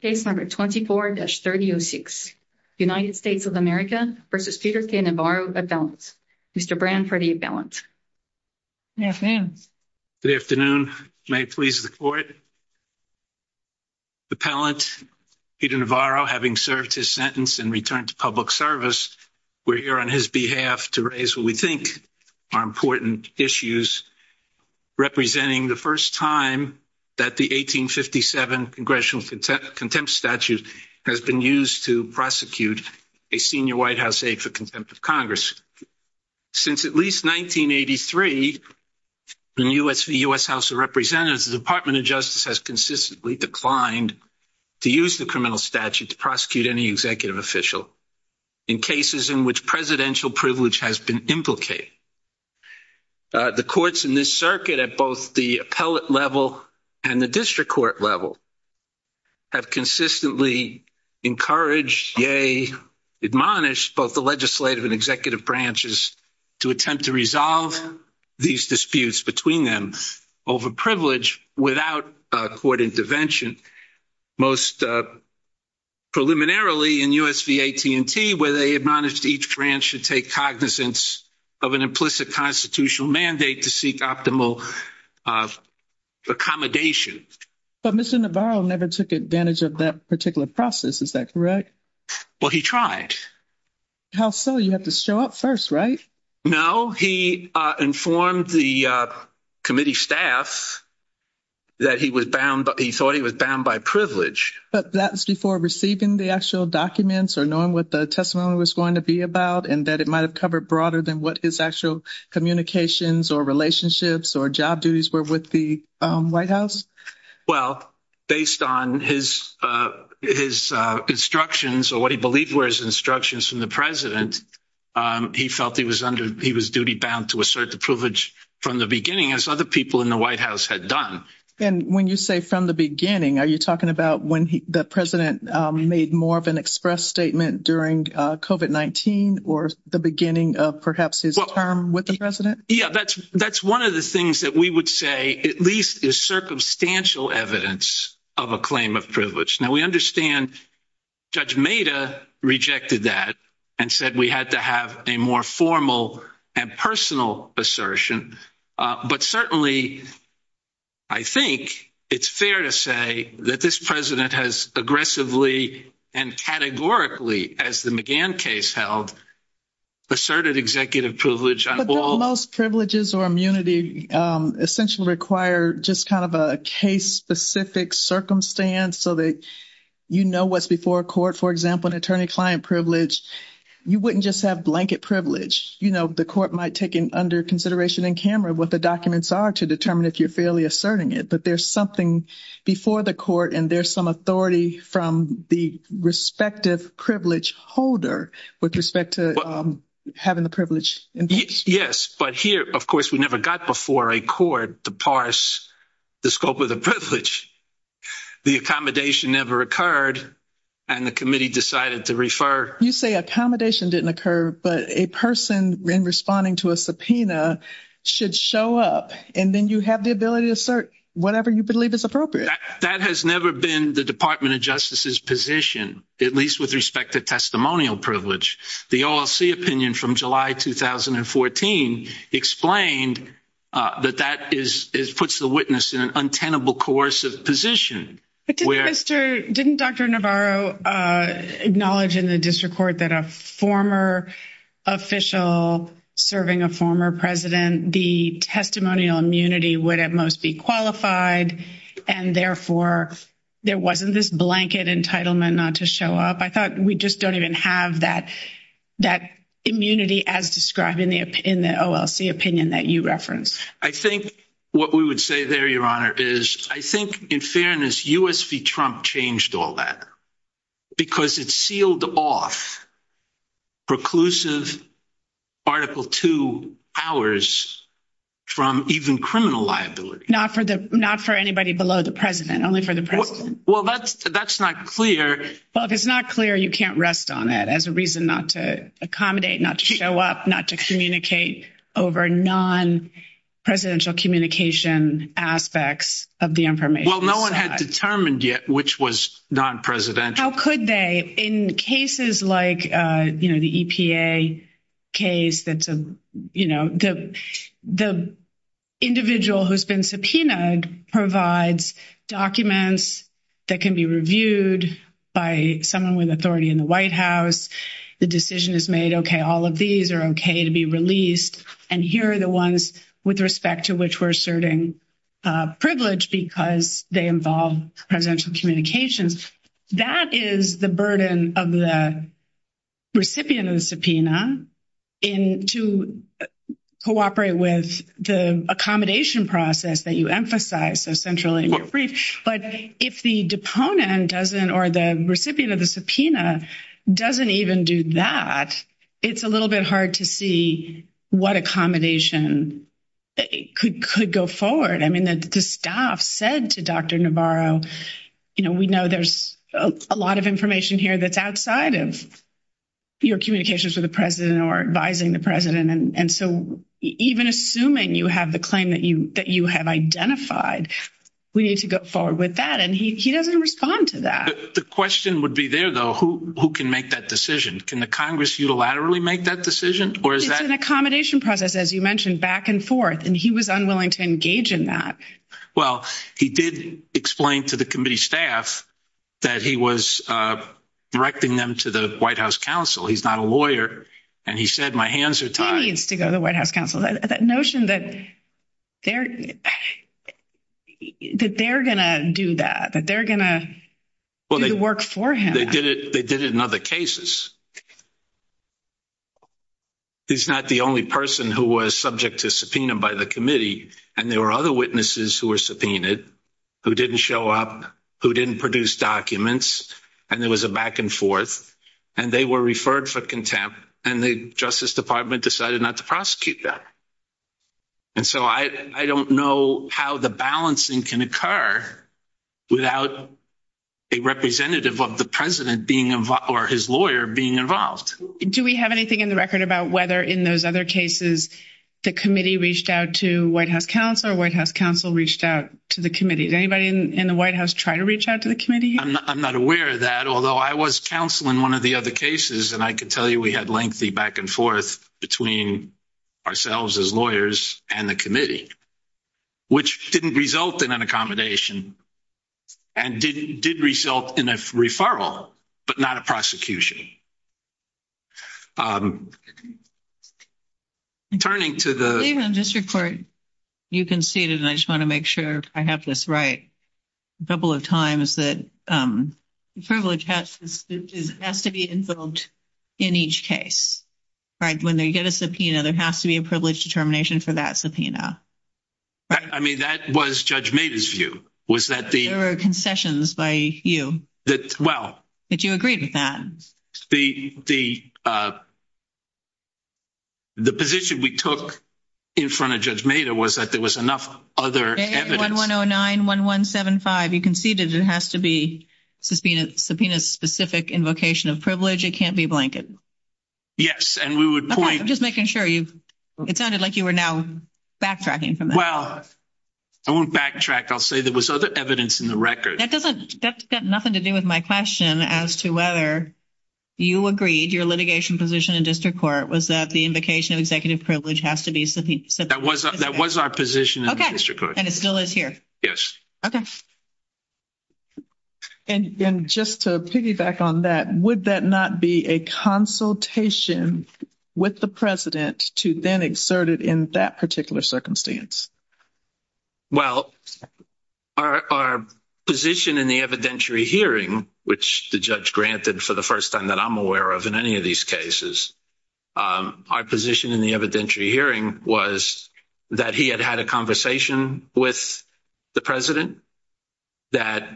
Case No. 24-3006 United States of America v. Peter K. Navarro Appellant, Mr. Branford A. Pellant Good afternoon. May it please the court. Appellant Peter Navarro, having served his sentence and returned to public service, we're here on his behalf to raise what we think are important issues representing the first time that the 1857 Congressional Contempt Statute has been used to prosecute a senior White House aide for contempt of Congress. Since at least 1983, in the U.S. House of Representatives, the Department of Justice has consistently declined to use the criminal statute to prosecute any executive official in cases in which presidential privilege has been implicated. The courts in this circuit, at both the appellate level and the district court level, have consistently encouraged, yea, admonished both the legislative and executive branches to attempt to resolve these disputes between them over privilege without court intervention. Most preliminarily in U.S. v. AT&T, where they admonished each branch to take cognizance of an implicit constitutional mandate to seek optimal accommodation. But Mr. Navarro never took advantage of that particular process, is that correct? Well, he tried. How so? You have to show up first, right? No, he informed the committee staff that he was bound, he thought he was bound by privilege. But that was before receiving the actual documents or knowing what the testimony was going to be about and that it might have covered broader than what his actual communications or relationships or job duties were with the White House? Well, based on his instructions or what he believed were his instructions from the president, he felt he was duty bound to assert the privilege from the beginning as other people in the White House had done. And when you say from the beginning, are you talking about when the president made more of an express statement during COVID-19 or the beginning of perhaps his term with the president? Yeah, that's one of the things that we would say at least is circumstantial evidence of a claim of privilege. Now, we understand Judge Maida rejected that and said we had to have a more formal and personal assertion. But certainly, I think it's fair to say that this president has aggressively and categorically, as the McGann case held, asserted executive privilege. But don't most privileges or immunity essentially require just kind of a case-specific circumstance so that you know what's before court? For example, an attorney-client privilege, you wouldn't just have blanket privilege. The court might take under consideration in camera what the documents are to determine if you're fairly asserting it. But there's something before the court, and there's some authority from the respective privilege holder with respect to having the privilege. Yes, but here, of course, we never got before a court to parse the scope of the privilege. The accommodation never occurred, and the committee decided to refer. You say accommodation didn't occur, but a person in responding to a subpoena should show up, and then you have the ability to assert whatever you believe is appropriate. That has never been the Department of Justice's position, at least with respect to testimonial privilege. The OLC opinion from July 2014 explained that that puts the witness in an untenable, coercive position. Didn't Dr. Navarro acknowledge in the district court that a former official serving a former president, the testimonial immunity would at most be qualified, and therefore, there wasn't this blanket entitlement not to show up? I thought we just don't even have that immunity as described in the OLC opinion that you referenced. I think what we would say there, Your Honor, is I think in fairness, U.S. v. Trump changed all that because it sealed off preclusive Article II powers from even criminal liability. Not for anybody below the president, only for the president. Well, that's not clear. Well, if it's not clear, you can't rest on it as a reason not to accommodate, not to show up, not to communicate over non-presidential communication aspects of the information. No one had determined yet which was non-presidential. How could they? In cases like the EPA case, the individual who's been subpoenaed provides documents that can be reviewed by someone with authority in the White House. The decision is made, okay, all of these are okay to be released, and here are the ones with respect to which we're privileged because they involve presidential communications. That is the burden of the recipient of the subpoena to cooperate with the accommodation process that you emphasize, so centrally in your brief. But if the deponent doesn't, or the recipient of the subpoena doesn't even do that, it's a little bit hard to see what accommodation could go forward. I mean, the staff said to Dr. Navarro, you know, we know there's a lot of information here that's outside of your communications with the president or advising the president, and so even assuming you have the claim that you have identified, we need to go forward with that, and he doesn't respond to that. The question would be there, though, who can make that decision? Can the Congress unilaterally make that decision? It's an accommodation process, as you mentioned, back and forth, and he was unwilling to engage in that. Well, he did explain to the committee staff that he was directing them to the White House counsel. He's not a lawyer, and he said, my hands are tied. He needs to go to the White House counsel. That notion that they're going to do that, that they're going to do the work for him. They did it in other cases. He's not the only person who was subject to subpoena by the committee, and there were other witnesses who were subpoenaed, who didn't show up, who didn't produce documents, and there was a back and forth, and they were referred for contempt, and the Justice Department decided not to prosecute them, and so I don't know how the balancing can occur without a representative of the president being involved or his lawyer being involved. Do we have anything in the record about whether in those other cases the committee reached out to White House counsel or White House counsel reached out to the committee? Did anybody in the White House try to reach out to the committee? I'm not aware of that, although I was counsel in one of the other cases, and I can tell you we had lengthy back and forth between ourselves as lawyers and the committee, which didn't result in an accommodation and did result in a referral, but not a prosecution. Turning to the... David, on district court, you conceded, and I just want to make sure I have this right, a couple of times, that privilege has to be invoked in each case, right? When they get a subpoena, there has to be a privilege determination for that subpoena, right? I mean, that was Judge Maida's view, was that the... There were concessions by you. Well... That you agreed with that. The position we took in front of Judge Maida was that there was enough other evidence... 1109, 1175, you conceded it has to be subpoena-specific invocation of privilege, it can't be blanket. Yes, and we would point... I'm just making sure you've... It sounded like you were now backtracking from that. Well, I won't backtrack. I'll say there was other evidence in the record. That doesn't... That's got nothing to do with my question as to whether you agreed, your litigation position in district court was that the invocation of executive privilege has to be subpoena-specific. That was our position in the district court. And it still is here? Okay. And just to piggyback on that, would that not be a consultation with the president to then exert it in that particular circumstance? Well, our position in the evidentiary hearing, which the judge granted for the first time that I'm aware of in any of these cases, our position in the evidentiary hearing was that he had had a conversation with the president, that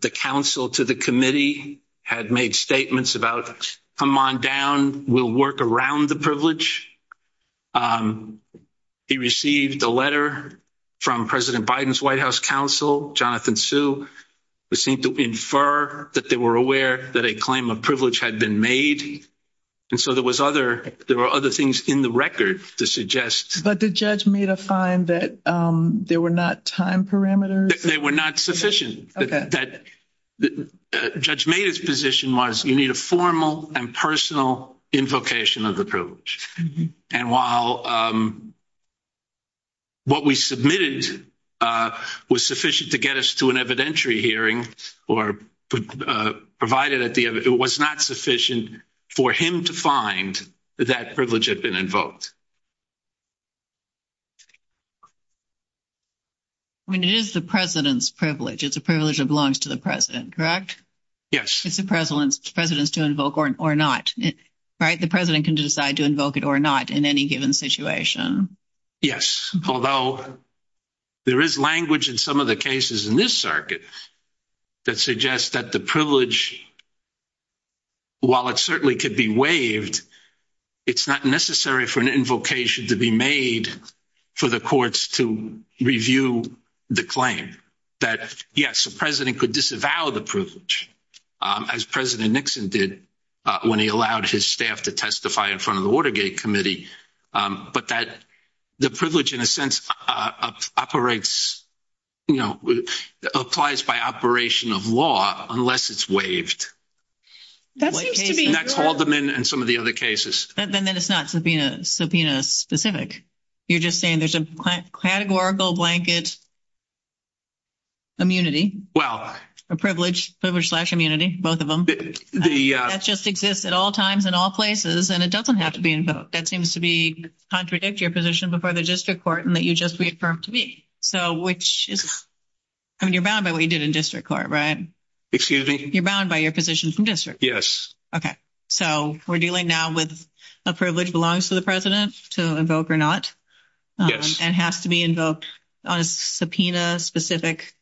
the counsel to the committee had made statements about, come on down, we'll work around the privilege. He received a letter from President Biden's White House counsel, Jonathan Sue, who seemed to infer that they were aware that a claim of privilege had been made. And so there were other things in the record to suggest... But did Judge Maida find that there were not time parameters? They were not sufficient. Judge Maida's position was you need a formal and personal invocation of the privilege. And while what we submitted was sufficient to get us to an evidentiary hearing, or provided it was not sufficient for him to find that privilege had been invoked. I mean, it is the president's privilege. It's a privilege that belongs to the president, correct? Yes. It's the president's to invoke or not, right? The president can decide to invoke it or not in any given situation. Yes, although there is language in some of the cases in this circuit that suggests that the privilege, while it certainly could be waived, it's not necessary for an invocation to be made for the courts to review the claim. That yes, the president could disavow the privilege, as President Nixon did when he allowed his staff to testify in front of the Watergate Committee. But that the privilege, in a sense, applies by operation of law, unless it's waived. That's Haldeman and some of the other cases. And then it's not subpoena specific. You're just saying there's a categorical blanket immunity. Well, a privilege slash immunity, both of them. That just exists at all times in all places, and it doesn't have to be invoked. That seems to contradict your position before the district court and that you just reaffirmed to me. I mean, you're bound by what you did in district court, right? Excuse me? You're bound by your position from district. Yes. Okay. So we're dealing now with a privilege belongs to the president to invoke or not. Yes. And has to be invoked on a subpoena specific.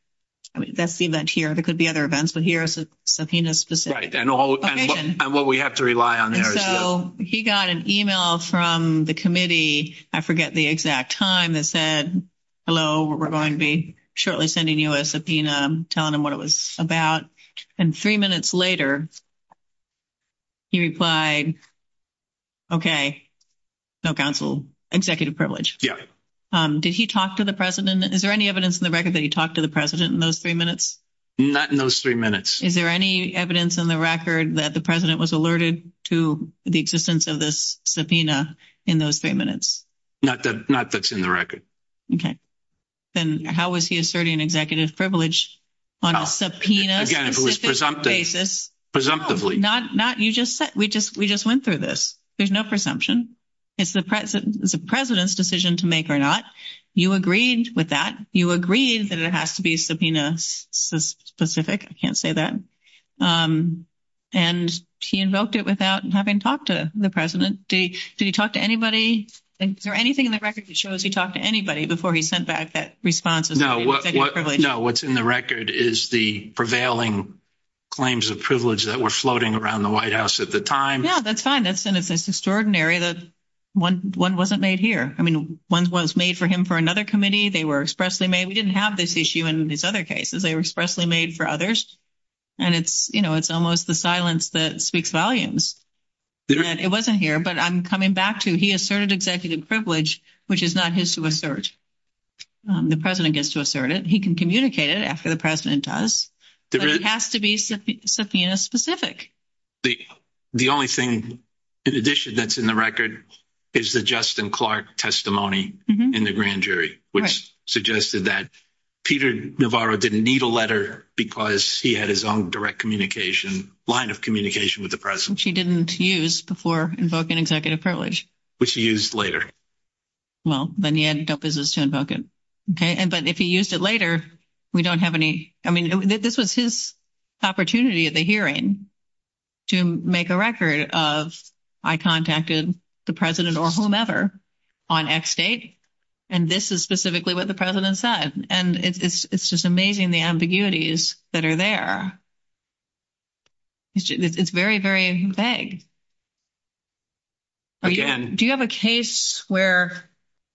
That's the event here. There could be other events, but here is a subpoena specific. Right, and what we have to rely on there. He got an email from the committee. I forget the exact time that said, hello, we're going to be shortly sending you a subpoena, telling them what it was about. And three minutes later, he replied, okay, no counsel, executive privilege. Yeah. Did he talk to the president? Is there any evidence in the record that he talked to the president in those three minutes? Not in those three minutes. Is there any evidence in the record that the president was alerted to the existence of this subpoena in those three minutes? Not that's in the record. Okay. Then how was he asserting an executive privilege on a subpoena? Again, if it was presumptive, presumptively. Not you just said, we just went through this. There's no presumption. It's the president's decision to make or not. You agreed with that. You agreed that it has to be subpoena specific. I can't say that. And he invoked it without having talked to the president. Did he talk to anybody? And is there anything in the record that shows he talked to anybody before he sent back that response? No, what's in the record is the prevailing claims of privilege that were floating around the White House at the time. Yeah, that's fine. That's an extraordinary that one wasn't made here. I mean, one was made for him for another committee. They were expressly made. We didn't have this issue in his other cases. They were expressly made for others. And it's, you know, it's almost the silence that speaks volumes. It wasn't here, but I'm coming back to he asserted executive privilege, which is not his to assert. The president gets to assert it. He can communicate it after the president does. It has to be subpoena specific. The only thing in addition that's in the record is the Justin Clark testimony in the grand which suggested that Peter Navarro didn't need a letter because he had his own direct communication line of communication with the president. She didn't use before invoking executive privilege, which he used later. Well, then he had no business to invoke it. OK, but if he used it later, we don't have any. I mean, this was his opportunity at the hearing to make a record of I contacted the president or whomever on X date. And this is specifically what the president said. And it's just amazing the ambiguities that are there. It's very, very vague. Do you have a case where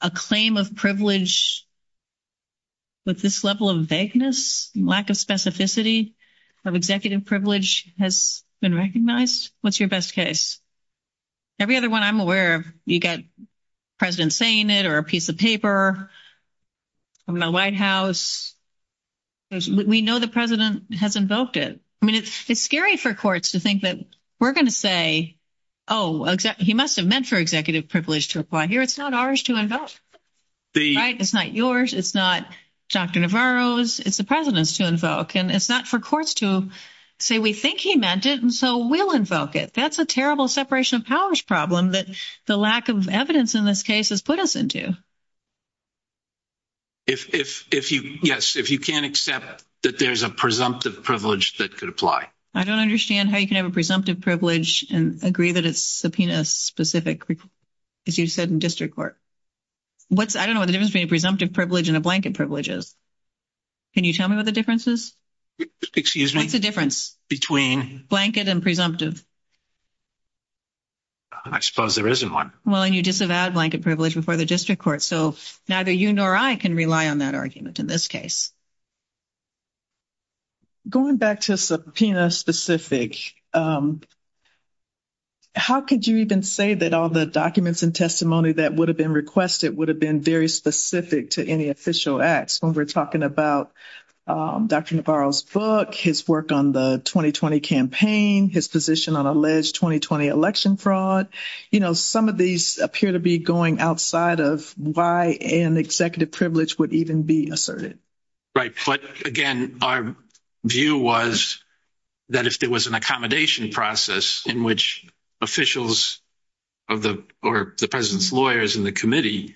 a claim of privilege? With this level of vagueness, lack of specificity of executive privilege has been recognized. What's your best case? Every other one I'm aware of, you got president saying it or a piece of paper. I'm in the White House. We know the president has invoked it. I mean, it's scary for courts to think that we're going to say, oh, he must have meant for executive privilege to apply here. It's not ours to invoke. It's not yours. It's not Dr. Navarro's. It's the president's to invoke. And it's not for courts to say we think he meant it. And so we'll invoke it. That's a terrible separation of powers problem that the lack of evidence in this case has put us into. Yes, if you can't accept that there's a presumptive privilege that could apply. I don't understand how you can have a presumptive privilege and agree that it's subpoena specific, as you said, in district court. I don't know what the difference between a presumptive privilege and a blanket privilege is. Can you tell me what the difference is? Excuse me? What's the difference? Between? Blanket and presumptive. I suppose there isn't one. Well, and you disavowed blanket privilege before the district court. So neither you nor I can rely on that argument in this case. Going back to subpoena specific, how could you even say that all the documents and testimony that would have been requested would have been very specific to any official acts when we're talking about Dr. Navarro's book, his work on the 2020 campaign, his position on 2020 election fraud, you know, some of these appear to be going outside of why an executive privilege would even be asserted. But again, our view was that if there was an accommodation process in which officials or the president's lawyers in the committee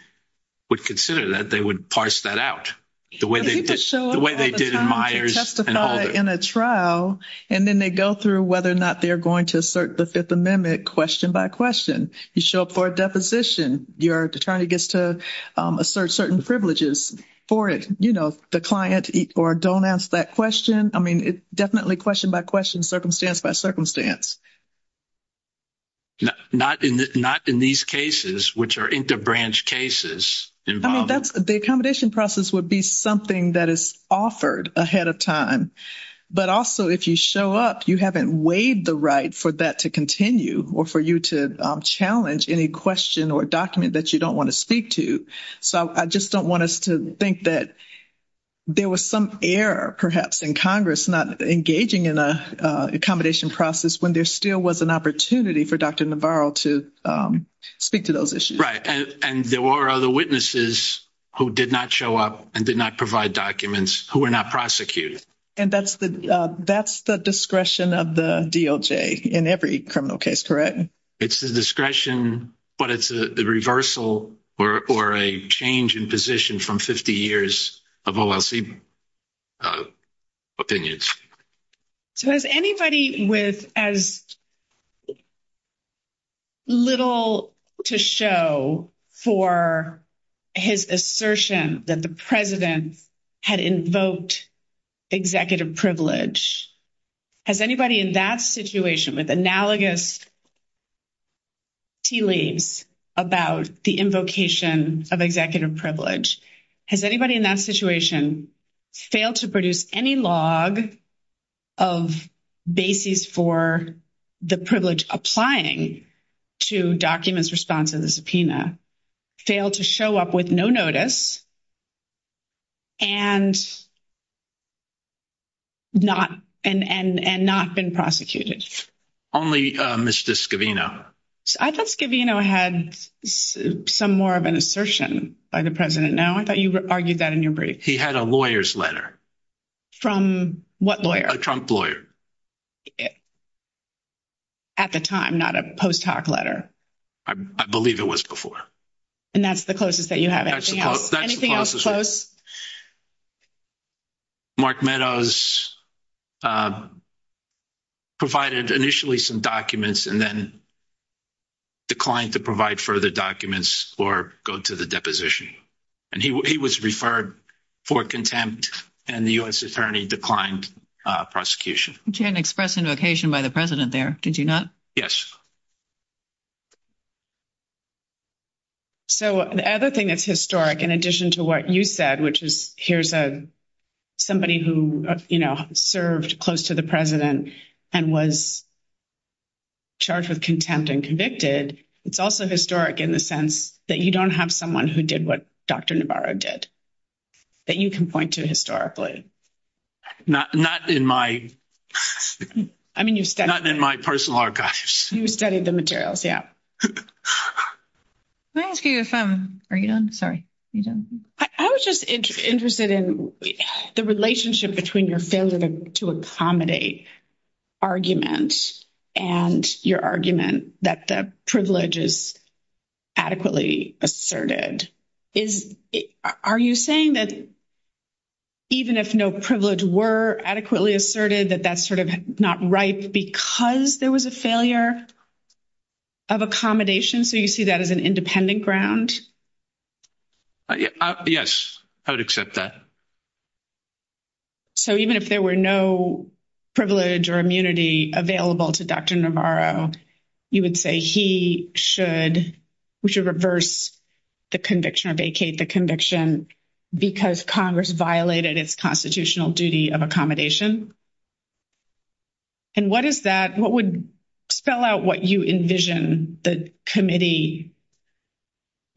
would consider that, they would parse that out the way they did in Myers and Holder. And then they go through whether or not they're going to assert the Fifth Amendment question by question. You show up for a deposition. Your attorney gets to assert certain privileges for it. You know, the client or don't ask that question. I mean, definitely question by question, circumstance by circumstance. Not in these cases, which are interbranch cases. The accommodation process would be something that is offered ahead of time. But also, if you show up, you haven't waived the right for that to continue or for you to challenge any question or document that you don't want to speak to. So I just don't want us to think that there was some error, perhaps, in Congress not engaging in an accommodation process when there still was an opportunity for Dr. Navarro to speak to those issues. Right. And there were other witnesses who did not show up and did not provide documents who were not prosecuted. And that's the discretion of the DOJ in every criminal case, correct? It's the discretion, but it's the reversal or a change in position from 50 years of OLC opinions. So has anybody with as little to show for his assertion that the president had invoked executive privilege, has anybody in that situation with analogous tea leaves about the invocation of executive privilege, has anybody in that situation failed to produce any log of basis for the privilege applying to documents responsive to the subpoena, failed to show up with no notice, and not been prosecuted? Only Mr. Scavino. I thought Scavino had some more of an assertion by the president. No, I thought you argued that in your brief. He had a lawyer's letter. From what lawyer? A Trump lawyer. At the time, not a post hoc letter. I believe it was before. And that's the closest that you have anything else? Anything else close? Mark Meadows provided initially some documents and then declined to provide further documents or go to the deposition. And he was referred for contempt and the U.S. attorney declined prosecution. You didn't express invocation by the president there, did you not? Yes. So the other thing that's historic, in addition to what you said, which is here's a somebody who, you know, served close to the president and was charged with contempt and convicted. It's also historic in the sense that you don't have someone who did what Dr. Navarro did. That you can point to historically. Not in my personal archives. You said that. Yeah. Can I ask you if I'm, are you done? Sorry. I was just interested in the relationship between your failure to accommodate argument and your argument that the privilege is adequately asserted. Are you saying that even if no privilege were adequately asserted, that that's sort of not right because there was a failure of accommodation? So you see that as an independent ground? Yes. I would accept that. So even if there were no privilege or immunity available to Dr. Navarro, you would say he should, we should reverse the conviction or vacate the conviction because Congress violated its constitutional duty of accommodation? And what is that? What would spell out what you envision the committee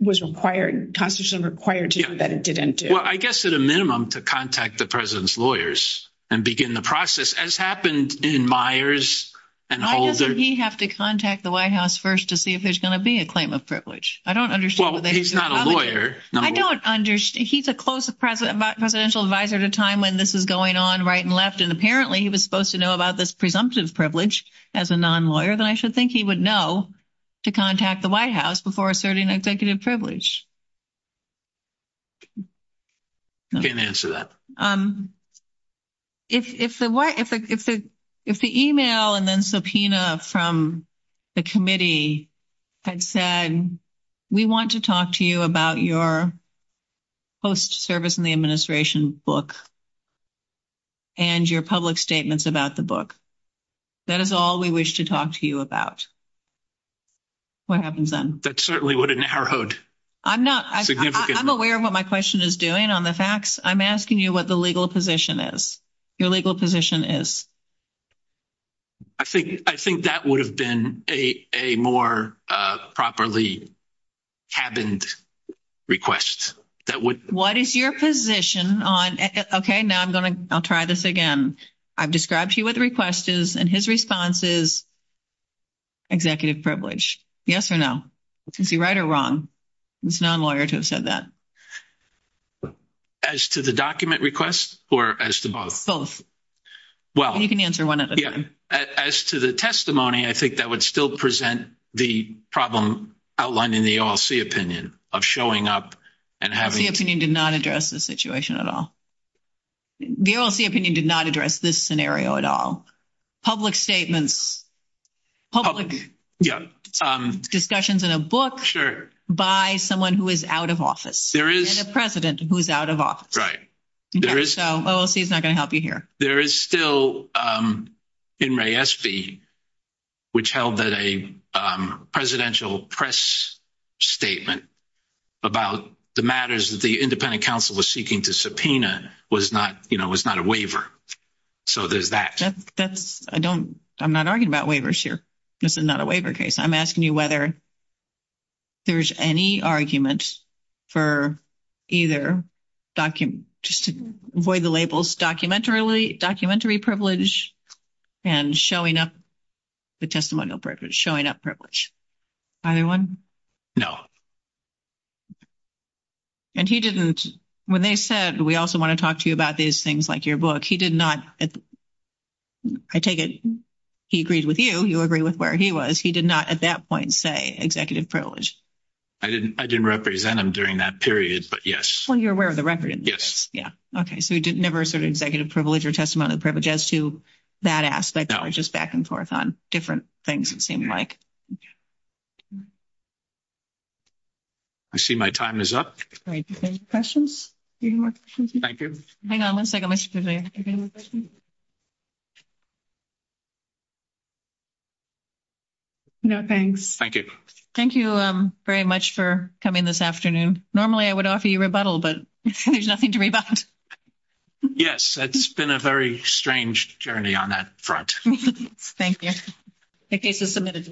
was required, constitutionally required to do that it didn't do? Well, I guess at a minimum to contact the president's lawyers and begin the process as happened in Myers and Holder. He'd have to contact the White House first to see if there's going to be a claim of privilege. I don't understand. He's not a lawyer. I don't understand. He's a close presidential advisor at a time when this is going on right and left. And apparently he was supposed to know about this presumptive privilege as a non-lawyer that I should think he would know to contact the White House before asserting executive privilege. Can't answer that. If the email and then subpoena from the committee had said, we want to talk to you about your post-service in the administration book and your public statements about the book. That is all we wish to talk to you about. What happens then? That certainly would have narrowed. I'm aware of what my question is doing on the facts. I'm asking you what the legal position is, your legal position is. I think that would have been a more properly cabined request. What is your position on, okay, now I'm going to try this again. I've described to you what the request is and his response is executive privilege. Yes or no? Is he right or wrong? He's a non-lawyer to have said that. As to the document request or as to both? Both. Well, you can answer one at a time. As to the testimony, I think that would still present the problem outlined in the OLC opinion of showing up and having. The OLC opinion did not address the situation at all. The OLC opinion did not address this scenario at all. Public statements, public discussions in a book by someone who is out of office. There is. And a president who's out of office. Right, there is. OLC is not going to help you here. There is still, in Ray Espy, which held that a presidential press statement about the matters that the independent counsel was seeking to subpoena was not a waiver. So there's that. I'm not arguing about waivers here. This is not a waiver case. I'm asking you whether there's any argument for either document, just to avoid the labels, documentary privilege and showing up, the testimonial privilege, showing up privilege. Either one? No. And he didn't, when they said, we also want to talk to you about these things like your book, he did not. I take it he agreed with you. You agree with where he was. He did not at that point say executive privilege. I didn't. I didn't represent him during that period. But yes. Well, you're aware of the record. Yes. Yeah. Okay. So he did never sort of executive privilege or testimonial privilege as to that aspect. They're just back and forth on different things. It seemed like. I see my time is up. Great questions. Thank you. Hang on one second. No, thanks. Thank you. Thank you very much for coming this afternoon. Normally, I would offer you rebuttal, but there's nothing to rebut. Yes, it's been a very strange journey on that front. Thank you. The case is submitted.